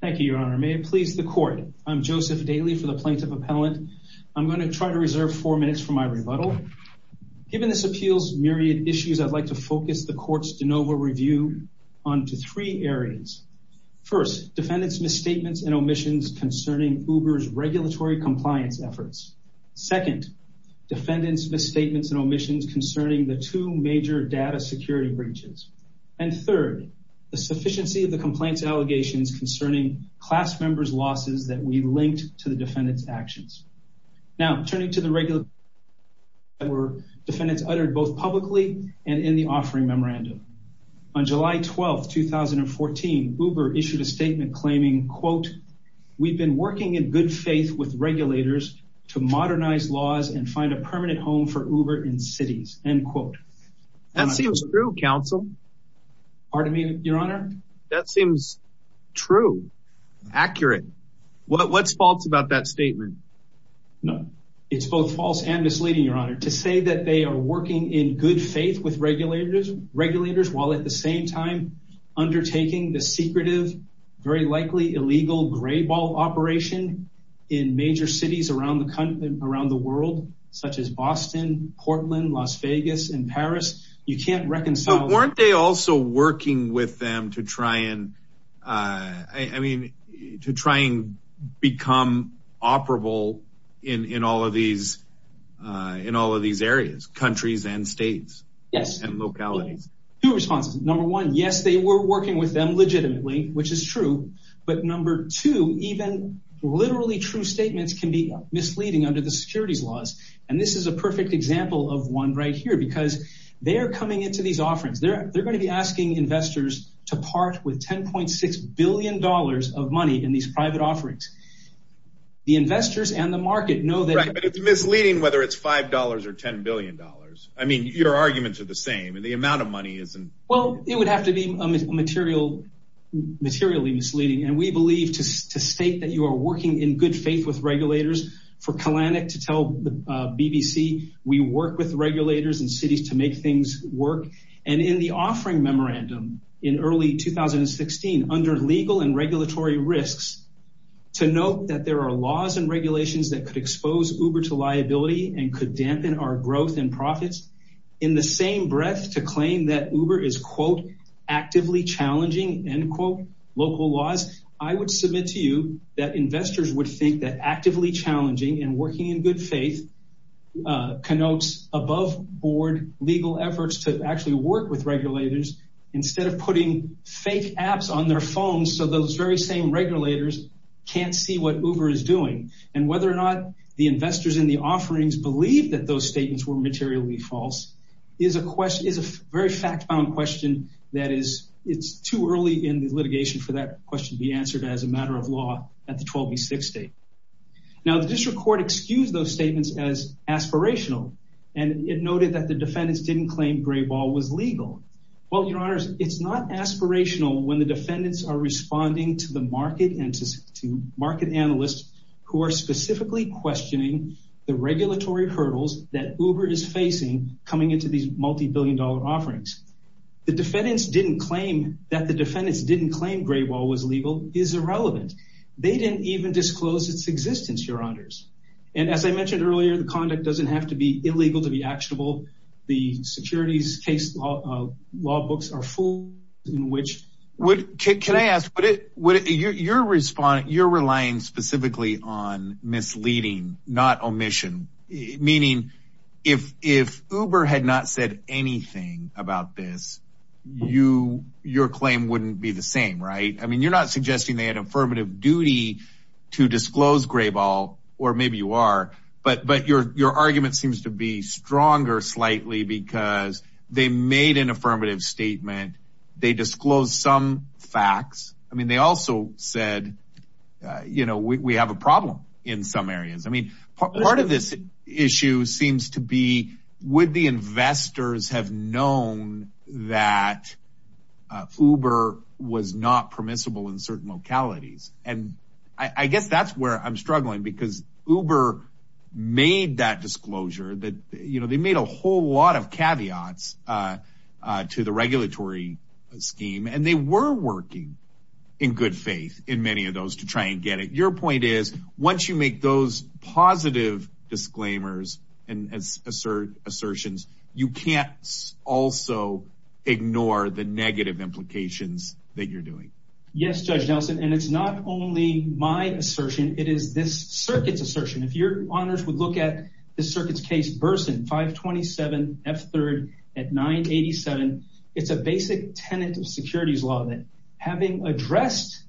Thank you, Your Honor. May it please the Court. I'm Joseph Daly for the Plaintiff Appellant. I'm going to try to reserve four minutes for my rebuttal. Given this appeal's myriad issues, I'd like to focus the Court's de novo review onto three areas. First, defendants' misstatements and omissions concerning Uber's regulatory compliance efforts. Second, defendants' misstatements and omissions concerning the two major data security breaches. And third, the sufficiency of the complaints allegations concerning class members' losses that we linked to the defendants' actions. Now, turning to the regulatory misstatements that were defendants uttered both publicly and in the offering memorandum. On July 12, 2014, Uber issued a statement claiming, quote, we've been working in good faith with regulators to modernize laws and find a permanent home for Uber in cities, end quote. That seems true, counsel. Pardon me, Your Honor? That seems true, accurate. What's false about that statement? No, it's both false and misleading, Your Honor. To say that they are working in good faith with regulators while at the same time undertaking the secretive, very likely illegal gray ball operation in major cities around the world, such as Boston, Portland, Las Vegas, and Paris, you can't reconcile. But weren't they also working with them to try and, I mean, to try and become operable in all of these areas, countries and states and localities? Two responses. Number one, yes, they were working with them legitimately, which is true. But number two, even literally true statements can be misleading under the securities laws. And this is a perfect example of one right here, because they're coming into these offerings. They're going to be asking investors to part with $10.6 billion of money in these private offerings. The investors and the market know that it's misleading whether it's $5 or $10 billion. I mean, your arguments are the same and the amount of money isn't. Well, it would have to be materially misleading. And we believe to state that you are working in good faith with regulators. For Kalanick to tell the BBC, we work with regulators and cities to make things work. And in the offering memorandum in early 2016, under legal and regulatory risks, to note that there are laws and regulations that could expose Uber to liability and could dampen our growth and profits. In the same breath to claim that Uber is, quote, actively challenging, end quote, local laws. I would submit to you that investors would think that actively challenging and working in good faith connotes above board legal efforts to actually work with regulators instead of putting fake apps on their phones so those very same regulators can't see what Uber is doing. And whether or not the investors in the offerings believe that those statements were in the litigation for that question to be answered as a matter of law at the 12B6 date. Now, the district court excused those statements as aspirational. And it noted that the defendants didn't claim gray ball was legal. Well, your honors, it's not aspirational when the defendants are responding to the market and to market analysts who are specifically questioning the regulatory hurdles that Uber is facing coming into these multi-billion dollar offerings. The defendants didn't claim that the defendants didn't claim gray ball was legal is irrelevant. They didn't even disclose its existence, your honors. And as I mentioned earlier, the conduct doesn't have to be illegal to be actionable. The securities case law books are full in which would kick. Can I ask what it would your response? You're relying specifically on you. Your claim wouldn't be the same, right? I mean, you're not suggesting they had affirmative duty to disclose gray ball or maybe you are, but your argument seems to be stronger slightly because they made an affirmative statement. They disclosed some facts. I mean, they also said, you know, we have a problem in some areas. I mean, part of this issue seems to be would the investors have known that Uber was not permissible in certain localities? And I guess that's where I'm struggling because Uber made that disclosure that, you know, they made a whole lot of caveats to the regulatory scheme and they were working in good faith in many of those to try and get it. Your point is once you make those positive disclaimers and assert assertions, you can't also ignore the negative implications that you're doing. Yes. Judge Nelson. And it's not only my assertion, it is this circuit's assertion. If your honors would look at the circuit's case, Burson five 27 F third at nine 87. It's a basic tenant of securities law that having addressed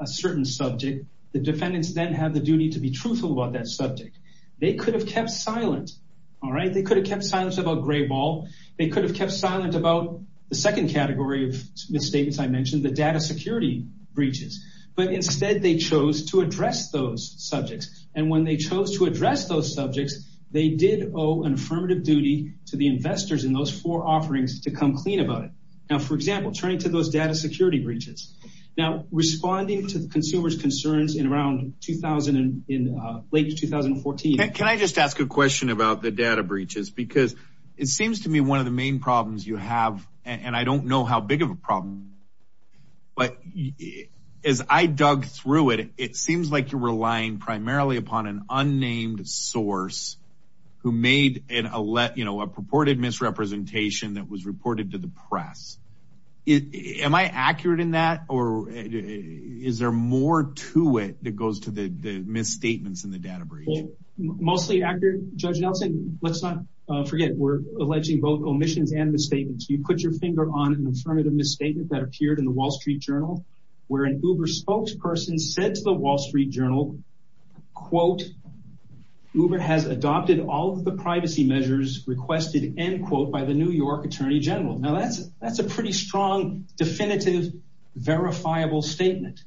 a certain subject, the defendants then have the duty to be truthful about that subject. They could have kept silent. All right. They could have kept silence about gray ball. They could have kept silent about the second category of misstatements. I mentioned the data security breaches, but instead they chose to address those subjects. And when they chose to address those subjects, they did owe an affirmative duty to the investors in those four offerings to come clean about it. Now, for example, turning to those data security breaches now responding to the consumer's concerns in around 2000 and in late 2014. Can I just ask a question about the data breaches? Because it seems to me one of the main problems you have, and I don't know how big of a problem, but as I dug through it, it seems like you're relying primarily upon an unnamed source who made an alert, you know, a purported misrepresentation that was reported to the press. Am I accurate in that? Or is there more to it that goes to the misstatements in the data breach? Mostly accurate judge Nelson. Let's not forget. We're alleging both omissions and misstatements. You put your finger on an affirmative misstatement that appeared in the wall street journal, where an Uber spokesperson said to the wall street journal, quote, Uber has adopted all the privacy measures requested, end quote, by the New York Attorney General. Now that's, that's a pretty strong, definitive, verifiable statement.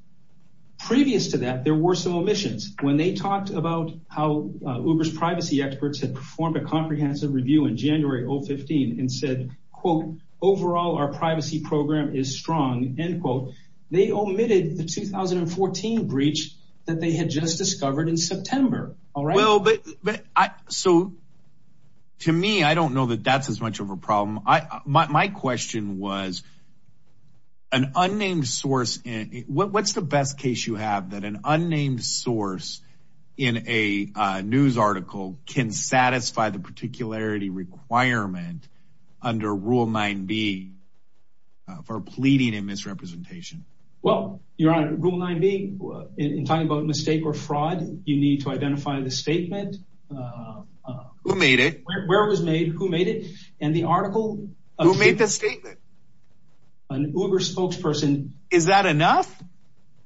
Previous to that, there were some omissions when they talked about how Uber's privacy experts had performed a comprehensive review in January of 15 and said, quote, overall, our privacy program is strong, end quote. They omitted the 2014 breach that they had just discovered in September. All right. Well, but, but I, so to me, I don't know that that's as much of a problem. I, my, my question was an unnamed source. What's the best case you have that an unnamed source in a news article can satisfy the particularity requirement under rule nine B for pleading in misrepresentation? Well, you're on rule nine B in talking about mistake or fraud, you need to identify the statement, uh, uh, who made it, where it was made, who made it. And the article who made the statement, an Uber spokesperson, is that enough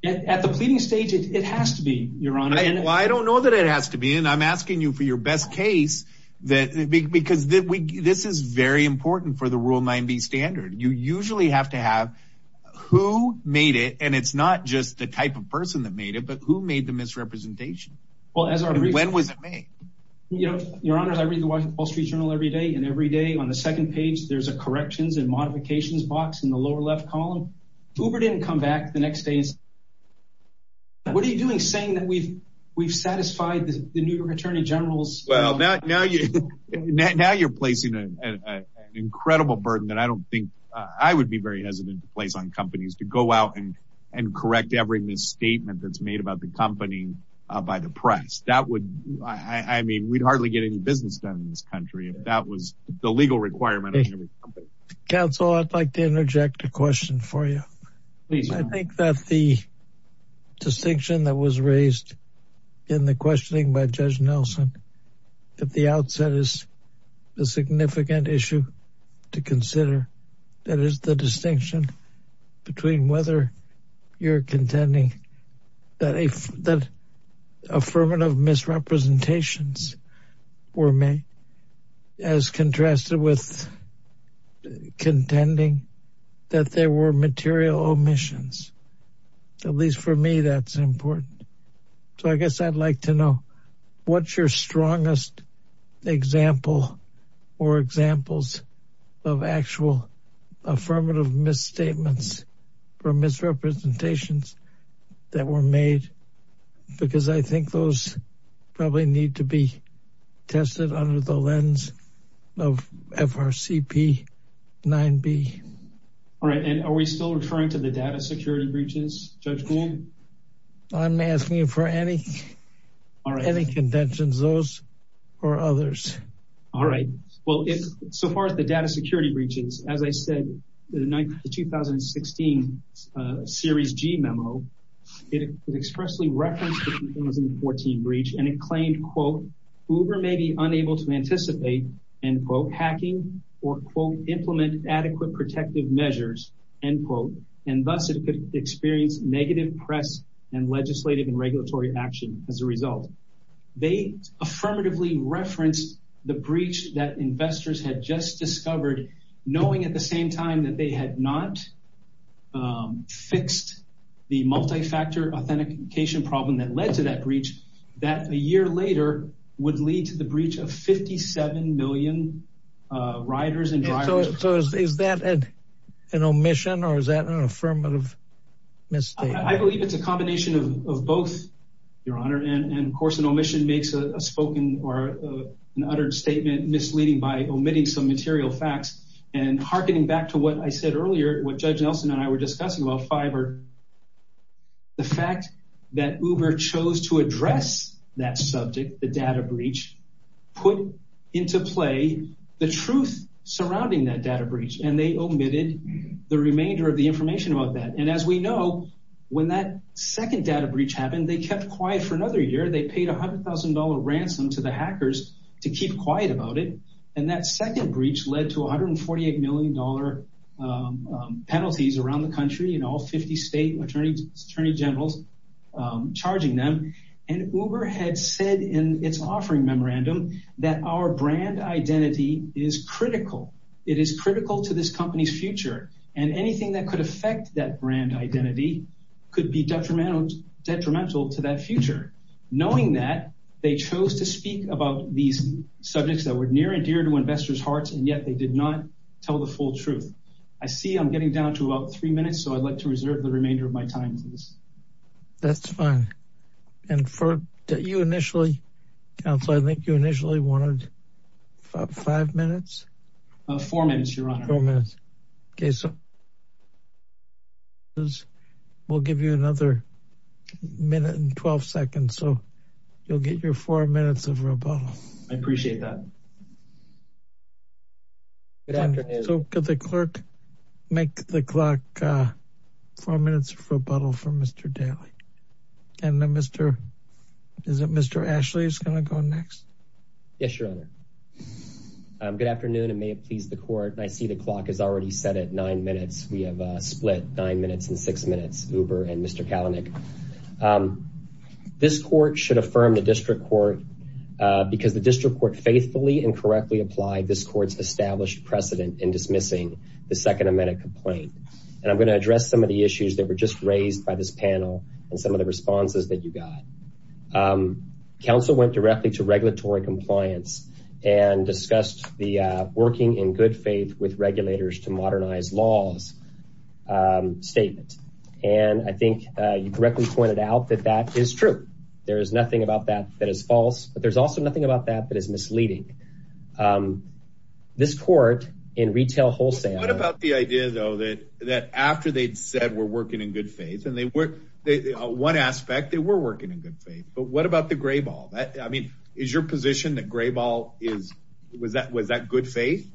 at the pleading stage? It has to be your honor. And I don't know that it has to be. And I'm asking you for your best case that big, because this is very important for the rule nine B standard. You usually have to have who made it. And it's not just the type of person that made it, but who made the misrepresentation. When was it made? You know, your honor, I read the Wall Street Journal every day and every day on the second page, there's a corrections and modifications box in the lower left column. Uber didn't come back the next day. What are you doing saying that we've, we've satisfied the New York attorney generals? Well, now, now you, now you're placing an incredible burden that I don't think I would be very hesitant to place on companies to go out and, and correct every misstatement that's made about the company by the press. That would, I mean, we'd hardly get any business done in this country if that was the legal requirement. Counsel, I'd like to interject a question for you. I think that the distinction that was raised in the questioning by Judge Nelson at the outset is a significant issue to consider. That is the distinction between whether you're contending that a, that affirmative misrepresentations were made as contrasted with contending that there were material omissions. At least for me, that's important. So I guess I'd like to know what's your strongest example or examples of actual affirmative misstatements or misrepresentations that were made? Because I think those probably need to be tested under the lens of FRCP 9B. All right. And are we still referring to the data security breaches, Judge Gould? I'm asking you for any, or any contentions, those or others? All right. Well, so far as the data security breaches, as I said, the 2016 series G memo, it expressly referenced the 2014 breach and it claimed, quote, Uber may be unable to anticipate, end quote, hacking or, quote, implement adequate protective measures, end quote, and thus it could experience negative press and legislative and regulatory action as a result. They affirmatively referenced the breach that investors had just discovered, knowing at the same time that they had not fixed the multi-factor authentication problem that led to that breach, that a year later would lead to the breach of 57 million riders and drivers. So is that an omission or is that an affirmative mistake? I believe it's a combination of both, Your Honor. And of course, an omission makes a spoken or an uttered statement misleading by omitting some material facts and harkening back to what I said earlier, what Judge Nelson and I were discussing about Fiverr, the fact that Uber chose to address that subject, the data breach, put into play the truth surrounding that data breach and they omitted the remainder of the information about that. And as we know, when that second data breach happened, they kept quiet for another year. They paid $100,000 ransom to the hackers to keep quiet about it. And that second breach led to $148 million penalties around the country and all 50 state attorney generals charging them. And Uber had said in its offering memorandum that our brand identity is critical. It is critical to this company's future. And anything that could affect that brand identity could be detrimental to that future. Knowing that, they chose to speak about these subjects that were near and dear to investors' hearts and yet did not tell the full truth. I see I'm getting down to about three minutes, so I'd like to reserve the remainder of my time for this. That's fine. And for you initially, counsel, I think you initially wanted five minutes? Four minutes, Your Honor. Four minutes. Okay, so we'll give you another minute and 12 seconds. So you'll get your four minutes of rebuttal. I appreciate that. Good afternoon. So could the clerk make the clock four minutes of rebuttal for Mr. Daley? And then Mr. Ashley is going to go next? Yes, Your Honor. Good afternoon. It may have pleased the court. I see the clock is already set at nine minutes. We have split nine minutes and six minutes, Uber and Mr. Kalanick. This court should affirm the district court because the district court faithfully and correctly applied this court's established precedent in dismissing the second amendment complaint. And I'm going to address some of the issues that were just raised by this panel and some of the responses that you got. Counsel went directly to regulatory compliance and discussed the working in good faith with regulators to modernize laws statement. And I think you correctly pointed out that that is true. There is nothing about that that is false, but there's also nothing about that that is misleading. This court in retail wholesale. What about the idea though, that after they'd said we're working in good faith and they were, one aspect they were working in good faith, but what about the gray ball? I mean, is your position that gray ball is, was that good faith?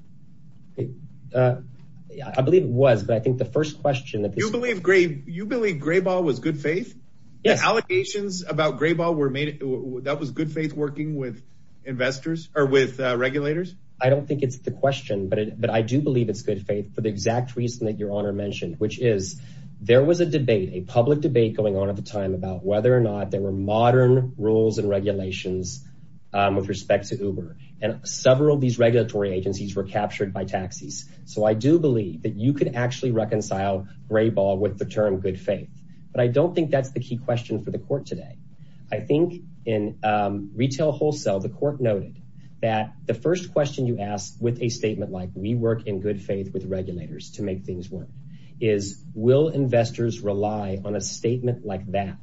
I believe it was, but I think the first question that you believe gray, you believe gray ball was good faith. Yes. Allocations about gray ball were made. That was good faith working with investors or with regulators. I don't think it's the question, but I do believe it's good faith for the exact reason that your honor mentioned, which is there was a debate, a public debate going on at the time about whether or not there were modern rules and regulations, um, with respect to Uber and several of these regulatory agencies were captured by taxis. So I do believe that you could actually reconcile gray ball with the term good faith, but I don't think that's the key question for the court today. I think in, um, retail wholesale, the court noted that the first question you asked with a statement, like we work in good faith with regulators to make things work is will investors rely on a statement like that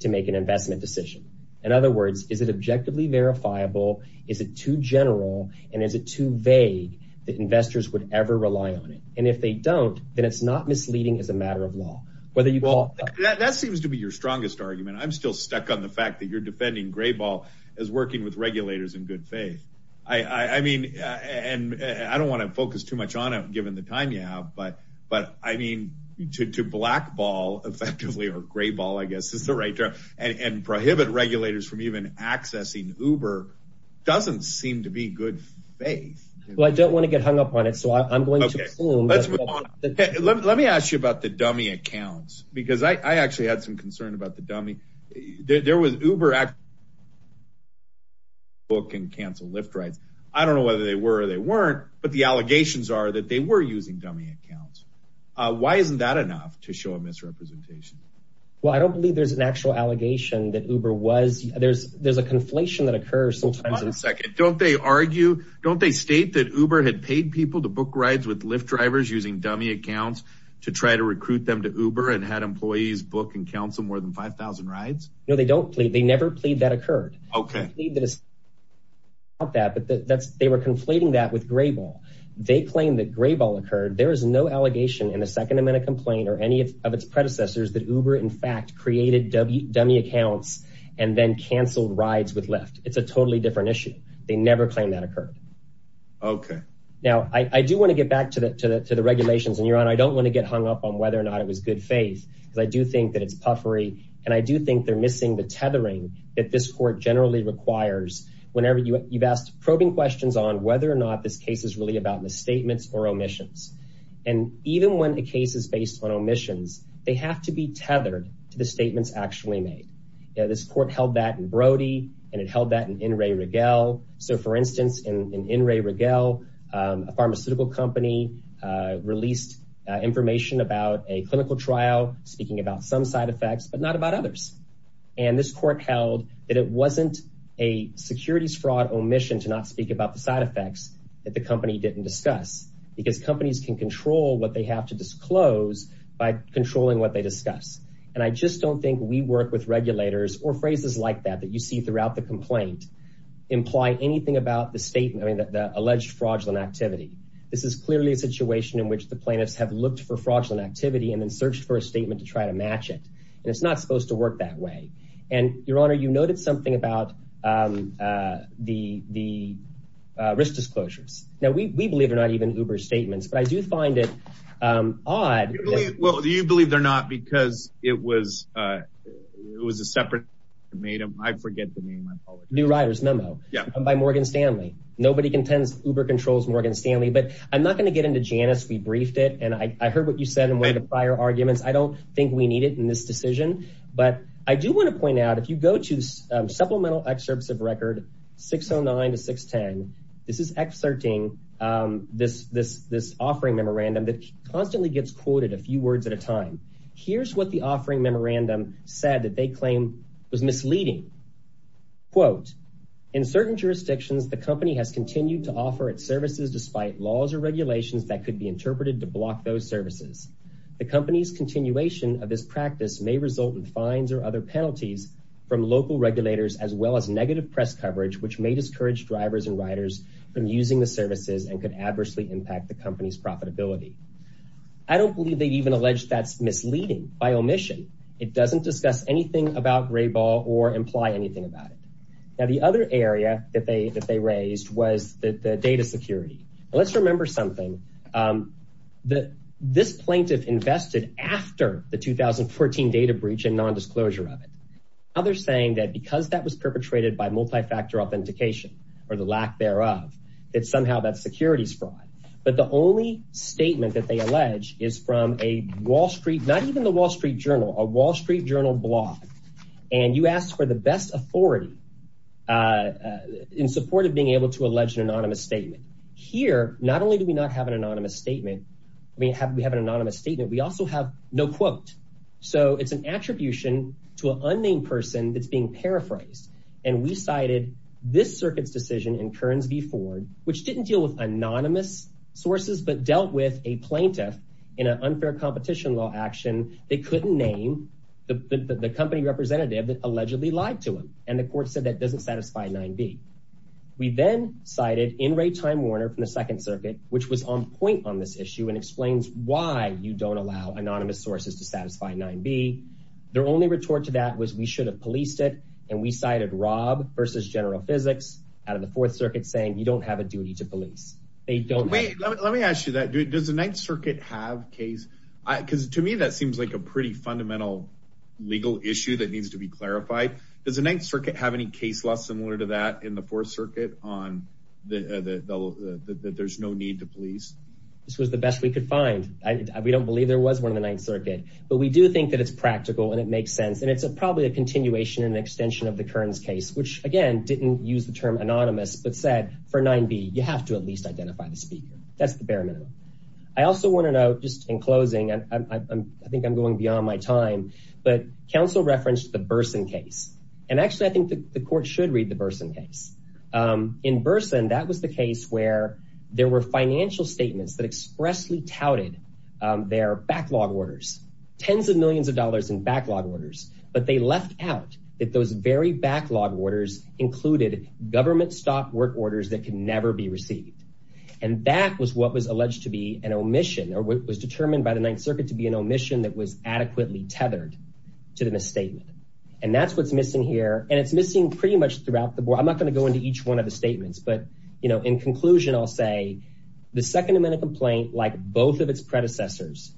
to make an investment decision. In other words, is it objectively verifiable? Is it too general? And is it too vague that investors would ever rely on it? And if they don't, then it's not misleading as a matter of law, whether you call that seems to be your strongest argument. I'm still stuck on the fact that you're defending gray ball as working with regulators in good faith. I mean, and I don't want to focus too much on it given the time you have, but, but I mean, to black ball effectively or gray ball, I guess is the right term and prohibit regulators from accessing Uber doesn't seem to be good faith. Well, I don't want to get hung up on it. So I'm going to assume let me ask you about the dummy accounts because I actually had some concern about the dummy. There was Uber book and cancel lift rides. I don't know whether they were, they weren't, but the allegations are that they were using dummy accounts. Why isn't that enough to show a misrepresentation? Well, I don't believe there's an actual allegation that Uber was, there's, there's a conflation that occurs sometimes. Don't they argue, don't they state that Uber had paid people to book rides with lift drivers using dummy accounts to try to recruit them to Uber and had employees book and counsel more than 5,000 rides. No, they don't plead. They never plead that occurred. Okay. Not that, but that's, they were conflating that with gray ball. They claim that gray ball occurred. There is no allegation in a second amendment complaint or any of its predecessors that Uber in fact created W dummy accounts and then canceled rides with lift. It's a totally different issue. They never claimed that occurred. Okay. Now I do want to get back to the, to the, to the regulations and you're on, I don't want to get hung up on whether or not it was good faith because I do think that it's puffery. And I do think they're missing the tethering that this court generally requires. Whenever you you've asked probing questions on whether or not this case is really about misstatements or omissions. And even when a case is based on omissions, they have to be tethered to the statements actually made. You know, this court held that in Brody and it held that in in Ray Riggle. So for instance, in, in Ray Riggle a pharmaceutical company released information about a clinical trial speaking about some side effects, but not about others. And this court held that it wasn't a securities fraud omission to not speak about the side effects that the company didn't discuss because companies can control what they have to disclose by controlling what they discuss. And I just don't think we work with regulators or phrases like that, that you see throughout the complaint imply anything about the statement, I mean the alleged fraudulent activity. This is clearly a situation in which the plaintiffs have looked for fraudulent activity and then searched for a statement to try to match it. And it's not supposed to work that way. And your honor, you noted something about the, the risk disclosures. Now we believe they're not even Uber statements, but I do find it odd. Well, you believe they're not because it was, it was a separate, I forget the name, I apologize. New Riders Memo by Morgan Stanley. Nobody contends Uber controls Morgan Stanley, but I'm not going to get into Janus. We briefed it and I heard what you said in one of the prior arguments. I don't think we need it in this decision, but I do want to point out if you go to supplemental excerpts of record 609 to 610, this is exerting this, this, this offering memorandum that constantly gets quoted a few words at a time. Here's what the offering memorandum said that they claim was misleading. Quote, in certain jurisdictions, the company has continued to offer its services despite laws or regulations that could be interpreted to block those services. The company's continuation of this practice may result in fines or other penalties from local regulators, as well as negative press coverage, which may discourage drivers and riders from using the services and could adversely impact the company's profitability. I don't believe they'd even allege that's misleading by omission. It doesn't discuss anything about gray ball or imply anything about it. Now, the other area that they, that they raised was the data security. Let's remember something that this plaintiff invested after the 2014 data breach and non-disclosure of it. Now they're saying that because that was perpetrated by multi-factor authentication or the lack thereof, that somehow that security's fraud. But the only statement that they allege is from a Wall Street, not even the Wall Street Journal, a Wall Street Journal blog. And you asked for the best authority in support of being able to allege an anonymous statement. Here, not only do we not have an anonymous statement, I mean, no quote. So it's an attribution to an unnamed person that's being paraphrased. And we cited this circuit's decision in Kearns v. Ford, which didn't deal with anonymous sources, but dealt with a plaintiff in an unfair competition law action. They couldn't name the company representative that allegedly lied to them. And the court said that doesn't satisfy 9b. We then cited in Ray Time Warner from the second circuit, which was on point on this issue and explains why you don't allow anonymous sources to satisfy 9b. Their only retort to that was we should have policed it. And we cited Rob versus General Physics out of the fourth circuit saying you don't have a duty to police. They don't. Wait, let me ask you that. Does the ninth circuit have case? Because to me, that seems like a pretty fundamental legal issue that needs to be clarified. Does the ninth circuit have any case law similar to that in the fourth circuit on that there's no need to police? This was the best we could find. We don't believe there was one of the ninth circuit, but we do think that it's practical and it makes sense. And it's probably a continuation and extension of the Kearns case, which again, didn't use the term anonymous, but said for 9b, you have to at least identify the speaker. That's the bare minimum. I also want to note just in closing, I think I'm going beyond my time, but counsel referenced the Burson case. And actually I think the court should read the Burson case. In Burson, that was the case where there were financial statements that expressly touted their backlog orders, tens of millions of dollars in backlog orders. But they left out that those very backlog orders included government stock work orders that can never be received. And that was what was alleged to be an omission, or what was determined by the ninth circuit to be an omission that was adequately tethered to the misstatement. And that's what's missing here. And it's missing pretty much throughout the board. I'm not going to go into each one of the statements, but in conclusion, I'll say the second amendment complaint, like both of its predecessors,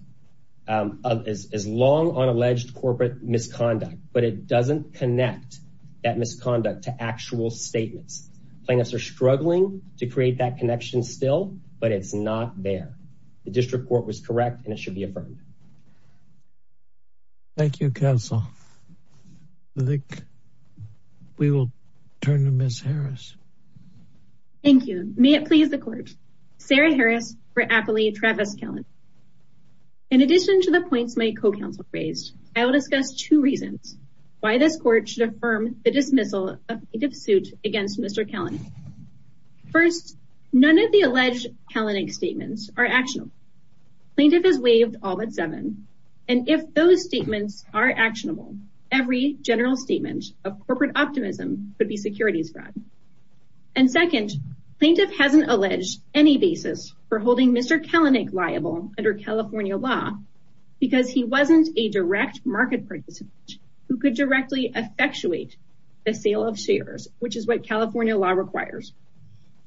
is long on alleged corporate misconduct, but it doesn't connect that misconduct to actual statements. Plaintiffs are struggling to create that connection still, but it's not there. The district court was correct and it should be affirmed. Thank you, counsel. I think we will turn to Ms. Harris. Thank you. May it please the court. Sarah Harris for appellee, Travis Kellin. In addition to the points my co-counsel raised, I will discuss two reasons why this court should affirm the dismissal of plaintiff's suit against Mr. Kellin. First, none of the alleged Kellin statements are actionable. Plaintiff has waived all but seven. And if those statements are actionable, every general statement of corporate optimism could be securities fraud. And second, plaintiff hasn't alleged any basis for holding Mr. Kellin liable under California law because he wasn't a direct market participant who could directly effectuate the sale of shares, which is what California law requires.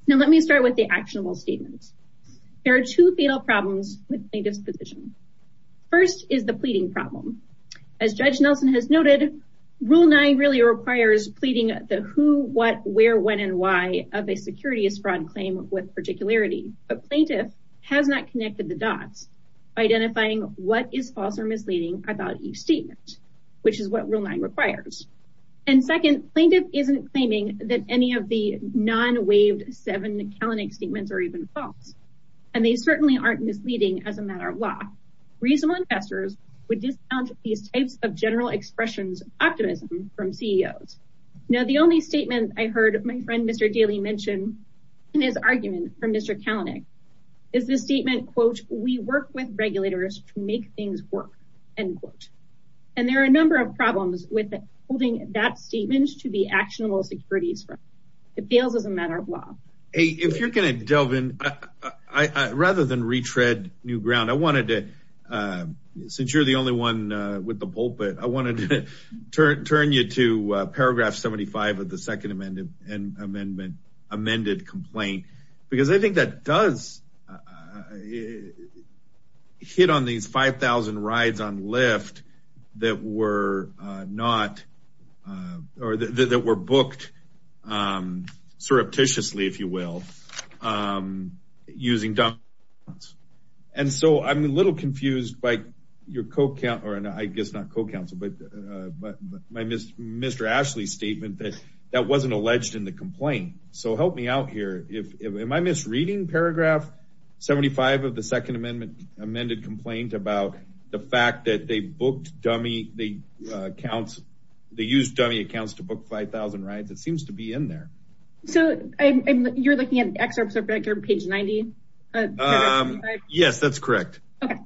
Now, let me start with the actionable statements. There are two fatal problems with plaintiff's position. First is the pleading problem. As Judge Nelson has noted, rule nine really requires pleading the who, what, where, when, and why of a securities fraud claim with particularity, but plaintiff has not connected the dots by identifying what is false or misleading about each statement, which is what rule nine requires. And second, plaintiff isn't claiming that any of the non-waived seven Kellin statements are even false. And they certainly aren't misleading as a matter of law. Reasonable investors would discount these types of general expressions of optimism from CEOs. Now, the only statement I heard my friend, Mr. Daley mentioned in his argument from Mr. Kellin is this statement, quote, we work with regulators to make things work, end quote. And there are a number of problems with holding that statement to be actionable securities fraud. It feels as a matter of law. If you're going to delve in, rather than retread new ground, I wanted to, since you're the only one with the pulpit, I wanted to turn you to paragraph 75 of the second amendment, amended complaint, because I think that does hit on these 5,000 rides on Lyft that were not, or that were booked surreptitiously, if you will, using dump trucks. And so I'm a little confused by your co-counselor, and I guess not co-counsel, but my Mr. Ashley's statement that that wasn't alleged in the complaint. So help me out here. If am I misreading paragraph 75 of the second amendment amended complaint about the fact that dummy accounts, they used dummy accounts to book 5,000 rides. It seems to be in there. So you're looking at excerpts of record page 90? Yes, that's correct. Okay.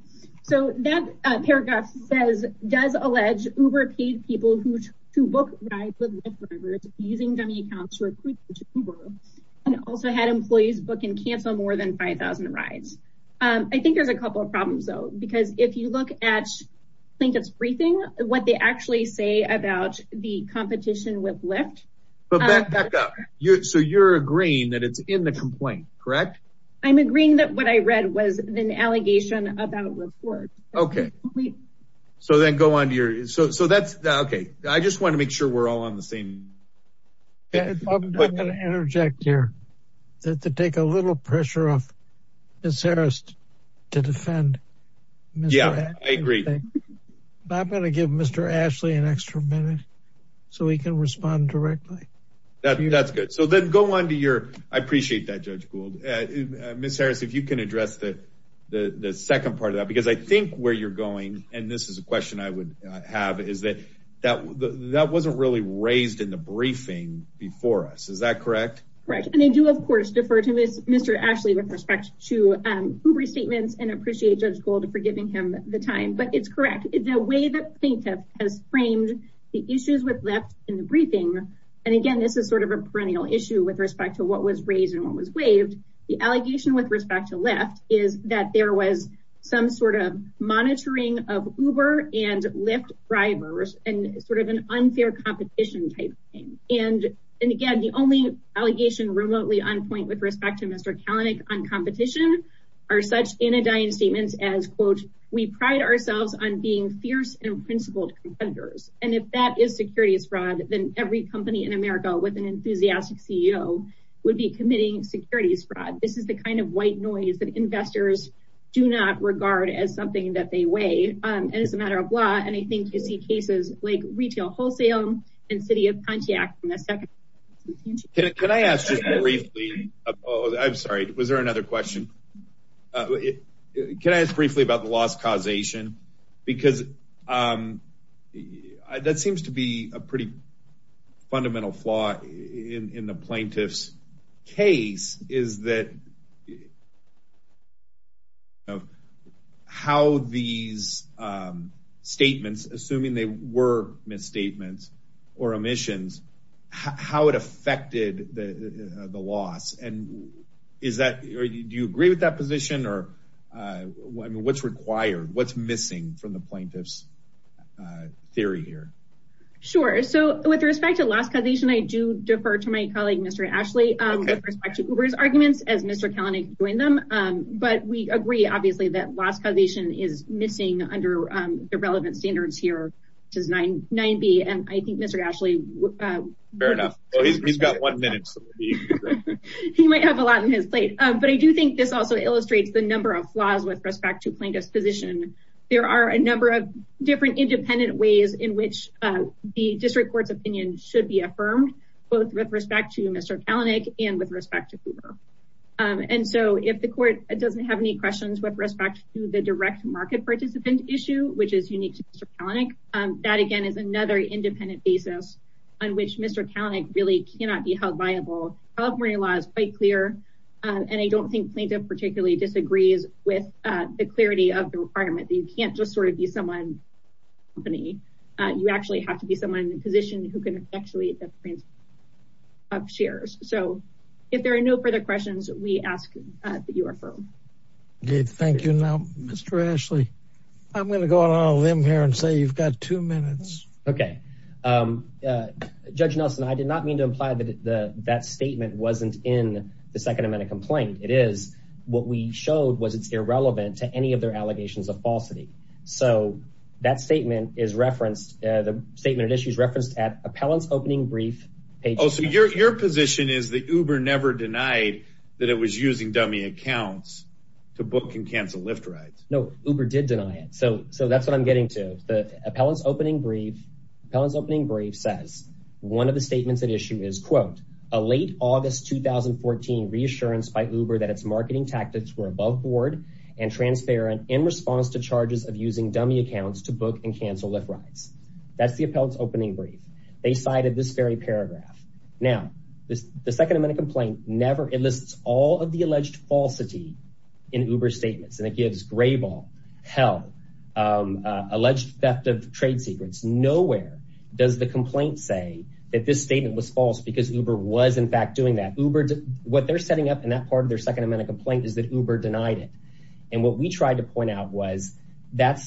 So that paragraph says, does allege Uber paid people who to book rides with Lyft drivers using dummy accounts and also had employees book and cancel more than 5,000 rides. I think there's a couple of problems because if you look at Plinkett's briefing, what they actually say about the competition with Lyft. So you're agreeing that it's in the complaint, correct? I'm agreeing that what I read was an allegation about reports. Okay. So then go on to your, so that's okay. I just want to make sure we're all on the same. I'm going to interject here that to take a little pressure off this Harris to defend. Yeah, I agree. I'm going to give Mr. Ashley an extra minute so he can respond directly. That's good. So then go on to your, I appreciate that judge Gould, Ms. Harris, if you can address the second part of that, because I think where you're going, and this is a question I would have is that wasn't really raised in the briefing before us. Is that correct? Correct. And I do of course, defer to Mr. Ashley with respect to Uber statements and appreciate judge Gould for giving him the time, but it's correct. The way that Plinkett has framed the issues with Lyft in the briefing. And again, this is sort of a perennial issue with respect to what was raised and what was waived. The allegation with respect to Lyft is that there was some sort of monitoring of Uber and Lyft drivers and sort of an unfair competition type thing. And, and again, the only allegation remotely on point with respect to Mr. Kalanick on competition are such anodyne statements as quote, we pride ourselves on being fierce and principled competitors. And if that is securities fraud, then every company in America with an enthusiastic CEO would be committing securities fraud. This is the kind of white is that investors do not regard as something that they weigh. And it's a matter of law. And I think you see cases like retail wholesale and city of Pontiac. Can I ask just briefly, I'm sorry, was there another question? Can I ask briefly about the loss causation? Because that seems to be a pretty big part of how these statements, assuming they were misstatements or omissions, how it affected the loss. And is that, do you agree with that position or what's required, what's missing from the plaintiff's theory here? Sure. So with respect to last causation, I do defer to my colleague, Mr. Ashley, with respect to Uber's arguments as Mr. Kalanick doing them. But we agree, obviously, that last causation is missing under the relevant standards here, which is 990. And I think Mr. Ashley, fair enough. He's got one minute. He might have a lot in his plate. But I do think this also illustrates the number of flaws with respect to plaintiff's position. There are a number of different independent ways in which the district court's opinion should be affirmed, both with respect to Mr. Kalanick and with respect to Uber. And so if the court doesn't have any questions with respect to the direct market participant issue, which is unique to Mr. Kalanick, that, again, is another independent basis on which Mr. Kalanick really cannot be held viable. California law is quite clear. And I don't think plaintiff particularly disagrees with the clarity of the requirement that you can't just sort of be someone's company. You actually have to be someone in a position who can actually have shares. So if there are no further questions, we ask that you are firm. Thank you. Now, Mr. Ashley, I'm going to go out on a limb here and say you've got two minutes. OK, Judge Nelson, I did not mean to imply that that statement wasn't in the second amendment complaint. It is what we showed was it's irrelevant to any of their statement of issues referenced at appellant's opening brief page. Oh, so your position is that Uber never denied that it was using dummy accounts to book and cancel Lyft rides? No, Uber did deny it. So that's what I'm getting to. The appellant's opening brief says one of the statements at issue is, quote, a late August 2014 reassurance by Uber that its marketing tactics were above board and transparent in response to charges of using dummy accounts to book and cancel Lyft rides. That's the appellant's opening brief. They cited this very paragraph. Now, the second amendment complaint never enlists all of the alleged falsity in Uber statements. And it gives gray ball, hell, alleged theft of trade secrets. Nowhere does the complaint say that this statement was false because Uber was, in fact, doing that. What they're setting up in that part of their second amendment complaint is that Uber denied it. And what we tried to point out was that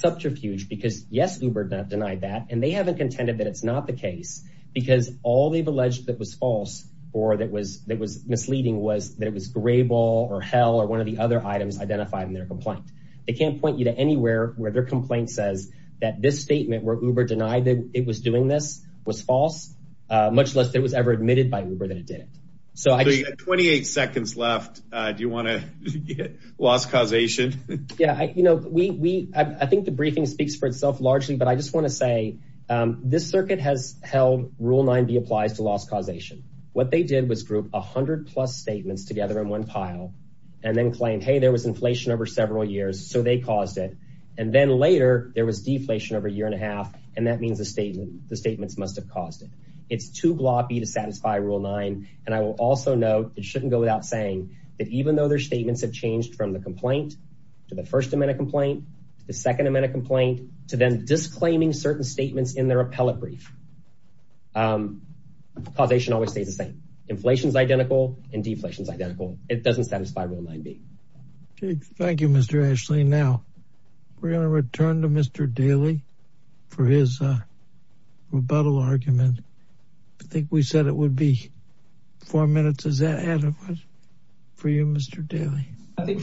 and they haven't contended that it's not the case because all they've alleged that was false or that was misleading was that it was gray ball or hell or one of the other items identified in their complaint. They can't point you to anywhere where their complaint says that this statement where Uber denied that it was doing this was false, much less it was ever admitted by Uber that it did it. So 28 seconds left. Do you want to get lost causation? Yeah, you know, we I think briefing speaks for itself largely, but I just want to say this circuit has held rule 90 applies to loss causation. What they did was group 100 plus statements together in one pile and then claim, hey, there was inflation over several years, so they caused it. And then later there was deflation over a year and a half. And that means a statement. The statements must have caused it. It's too gloppy to satisfy rule nine. And I will also note it shouldn't go without saying that even though their statements have changed from the complaint to the first amendment complaint, the second amendment complaint to then disclaiming certain statements in their appellate brief. Causation always stays the same. Inflation is identical and deflation is identical. It doesn't satisfy rule 90. Thank you, Mr. Ashley. Now we're going to return to Mr. Daly for his rebuttal argument. I think we said it would be four minutes. Is that for you, Mr. Daly? I think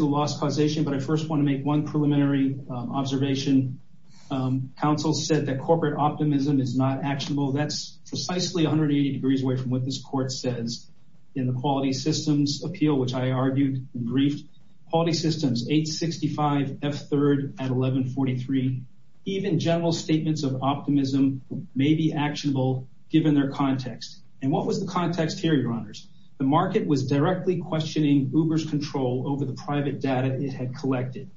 loss causation, but I first want to make one preliminary observation. Council said that corporate optimism is not actionable. That's precisely 180 degrees away from what this court says in the quality systems appeal, which I argued and briefed. Quality systems, 865 F third at 1143. Even general statements of optimism may be actionable given their context. And what was context here, your honors? The market was directly questioning Uber's control over the private data it had collected.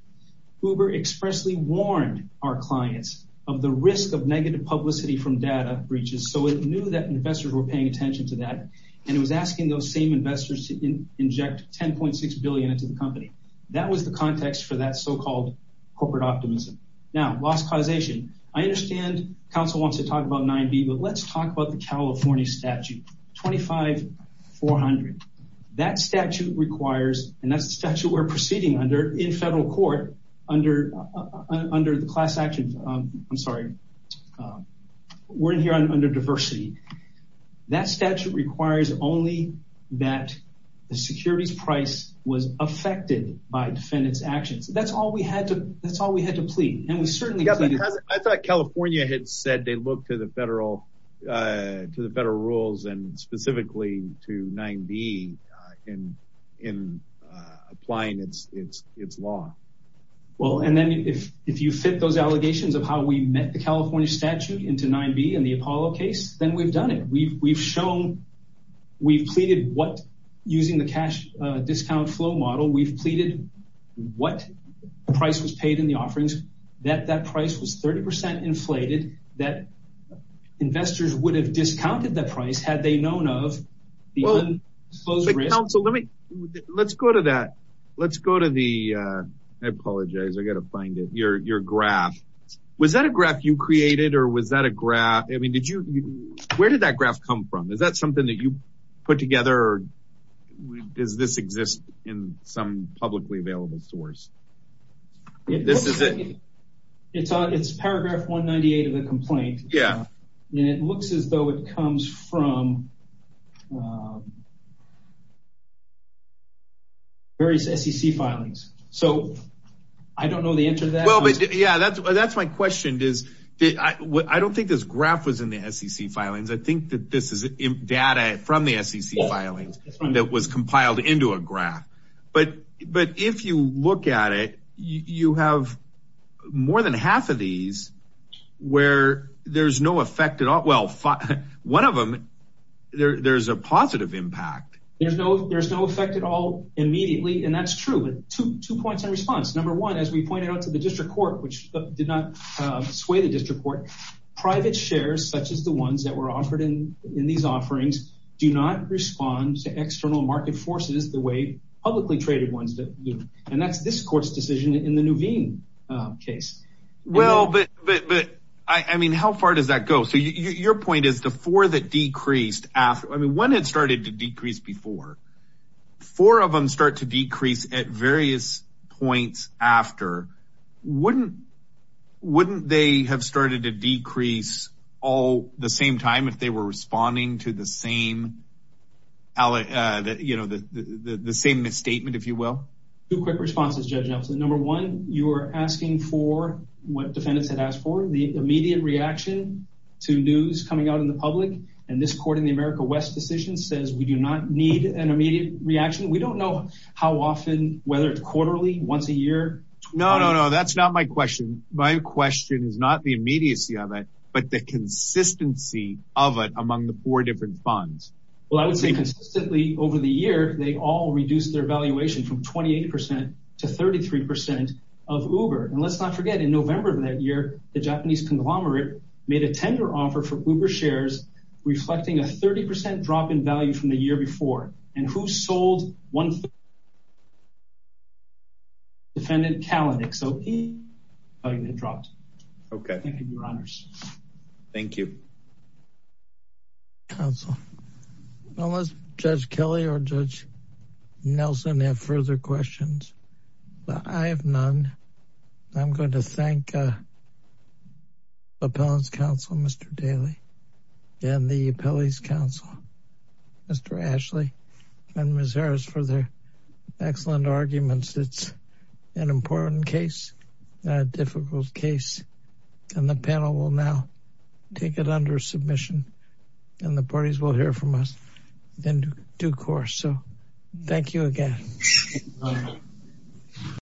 Uber expressly warned our clients of the risk of negative publicity from data breaches. So it knew that investors were paying attention to that. And it was asking those same investors to inject 10.6 billion into the company. That was the context for that so-called corporate optimism. Now, loss causation. I understand council wants to talk about 9B, but let's talk about the California statute, 25400. That statute requires, and that's the statute we're proceeding under in federal court under the class action. I'm sorry. We're in here under diversity. That statute requires only that the securities price was affected by defendant's actions. That's all we had to plead. And we certainly- I thought California had said they look to the federal rules and specifically to 9B in applying its law. Well, and then if you fit those allegations of how we met the California statute into 9B and the Apollo case, then we've done it. We've shown, we've pleaded what using the cash discount flow model, we've pleaded what price was paid in the offerings, that that price was 30% inflated, that investors would have discounted that price had they known of the- Well, but council, let me, let's go to that. Let's go to the, I apologize. I got to find it. Your graph. Was that a graph you created or was that a graph? I mean, did you, where did that graph come from? Is that something that you put together or does this exist in some publicly available source? This is it. It's paragraph 198 of the complaint. Yeah. And it looks as though it comes from various SEC filings. So I don't know the answer to that. Well, but yeah, that's, that's my question is that I don't think this graph was in the SEC filings. I think that this data from the SEC filings that was compiled into a graph, but, but if you look at it, you have more than half of these where there's no effect at all. Well, one of them, there there's a positive impact. There's no, there's no effect at all immediately. And that's true. Two points in response. Number one, as we pointed out to the district court, which did not sway the district court, private shares, such as the ones that were offered in, in these offerings do not respond to external market forces the way publicly traded ones do. And that's this court's decision in the Nuveen case. Well, but, but, but I mean, how far does that go? So your point is the four that decreased after, I mean, one had started to decrease before four of them start to decrease at various points after wouldn't, wouldn't they have started to decrease all the same time if they were responding to the same, you know, the, the, the, the same misstatement, if you will. Two quick responses, Judge Nelson. Number one, you are asking for what defendants had asked for the immediate reaction to news coming out in the public. And this court in the America West decision says we do not need an immediate reaction. We don't know how often, whether it's quarterly once a year. No, no, no. That's not my question. My question is not the immediacy of it, but the consistency of it among the four different funds. Well, I would say consistently over the year, they all reduced their valuation from 28% to 33% of Uber. And let's not forget in November of that the Japanese conglomerate made a tender offer for Uber shares reflecting a 30% drop in value from the year before and who sold one defendant Kalanick. So he dropped. Okay. Thank you, your honors. Thank you. Counsel, unless judge Kelly or judge Nelson have further questions, but I have none. I'm going to thank appellant's counsel, Mr. Daly and the appellate's counsel, Mr. Ashley and Ms. Harris for their excellent arguments. It's an important case, a difficult case, and the panel will now take it under submission and the parties will hear from us in due course. So thank you again.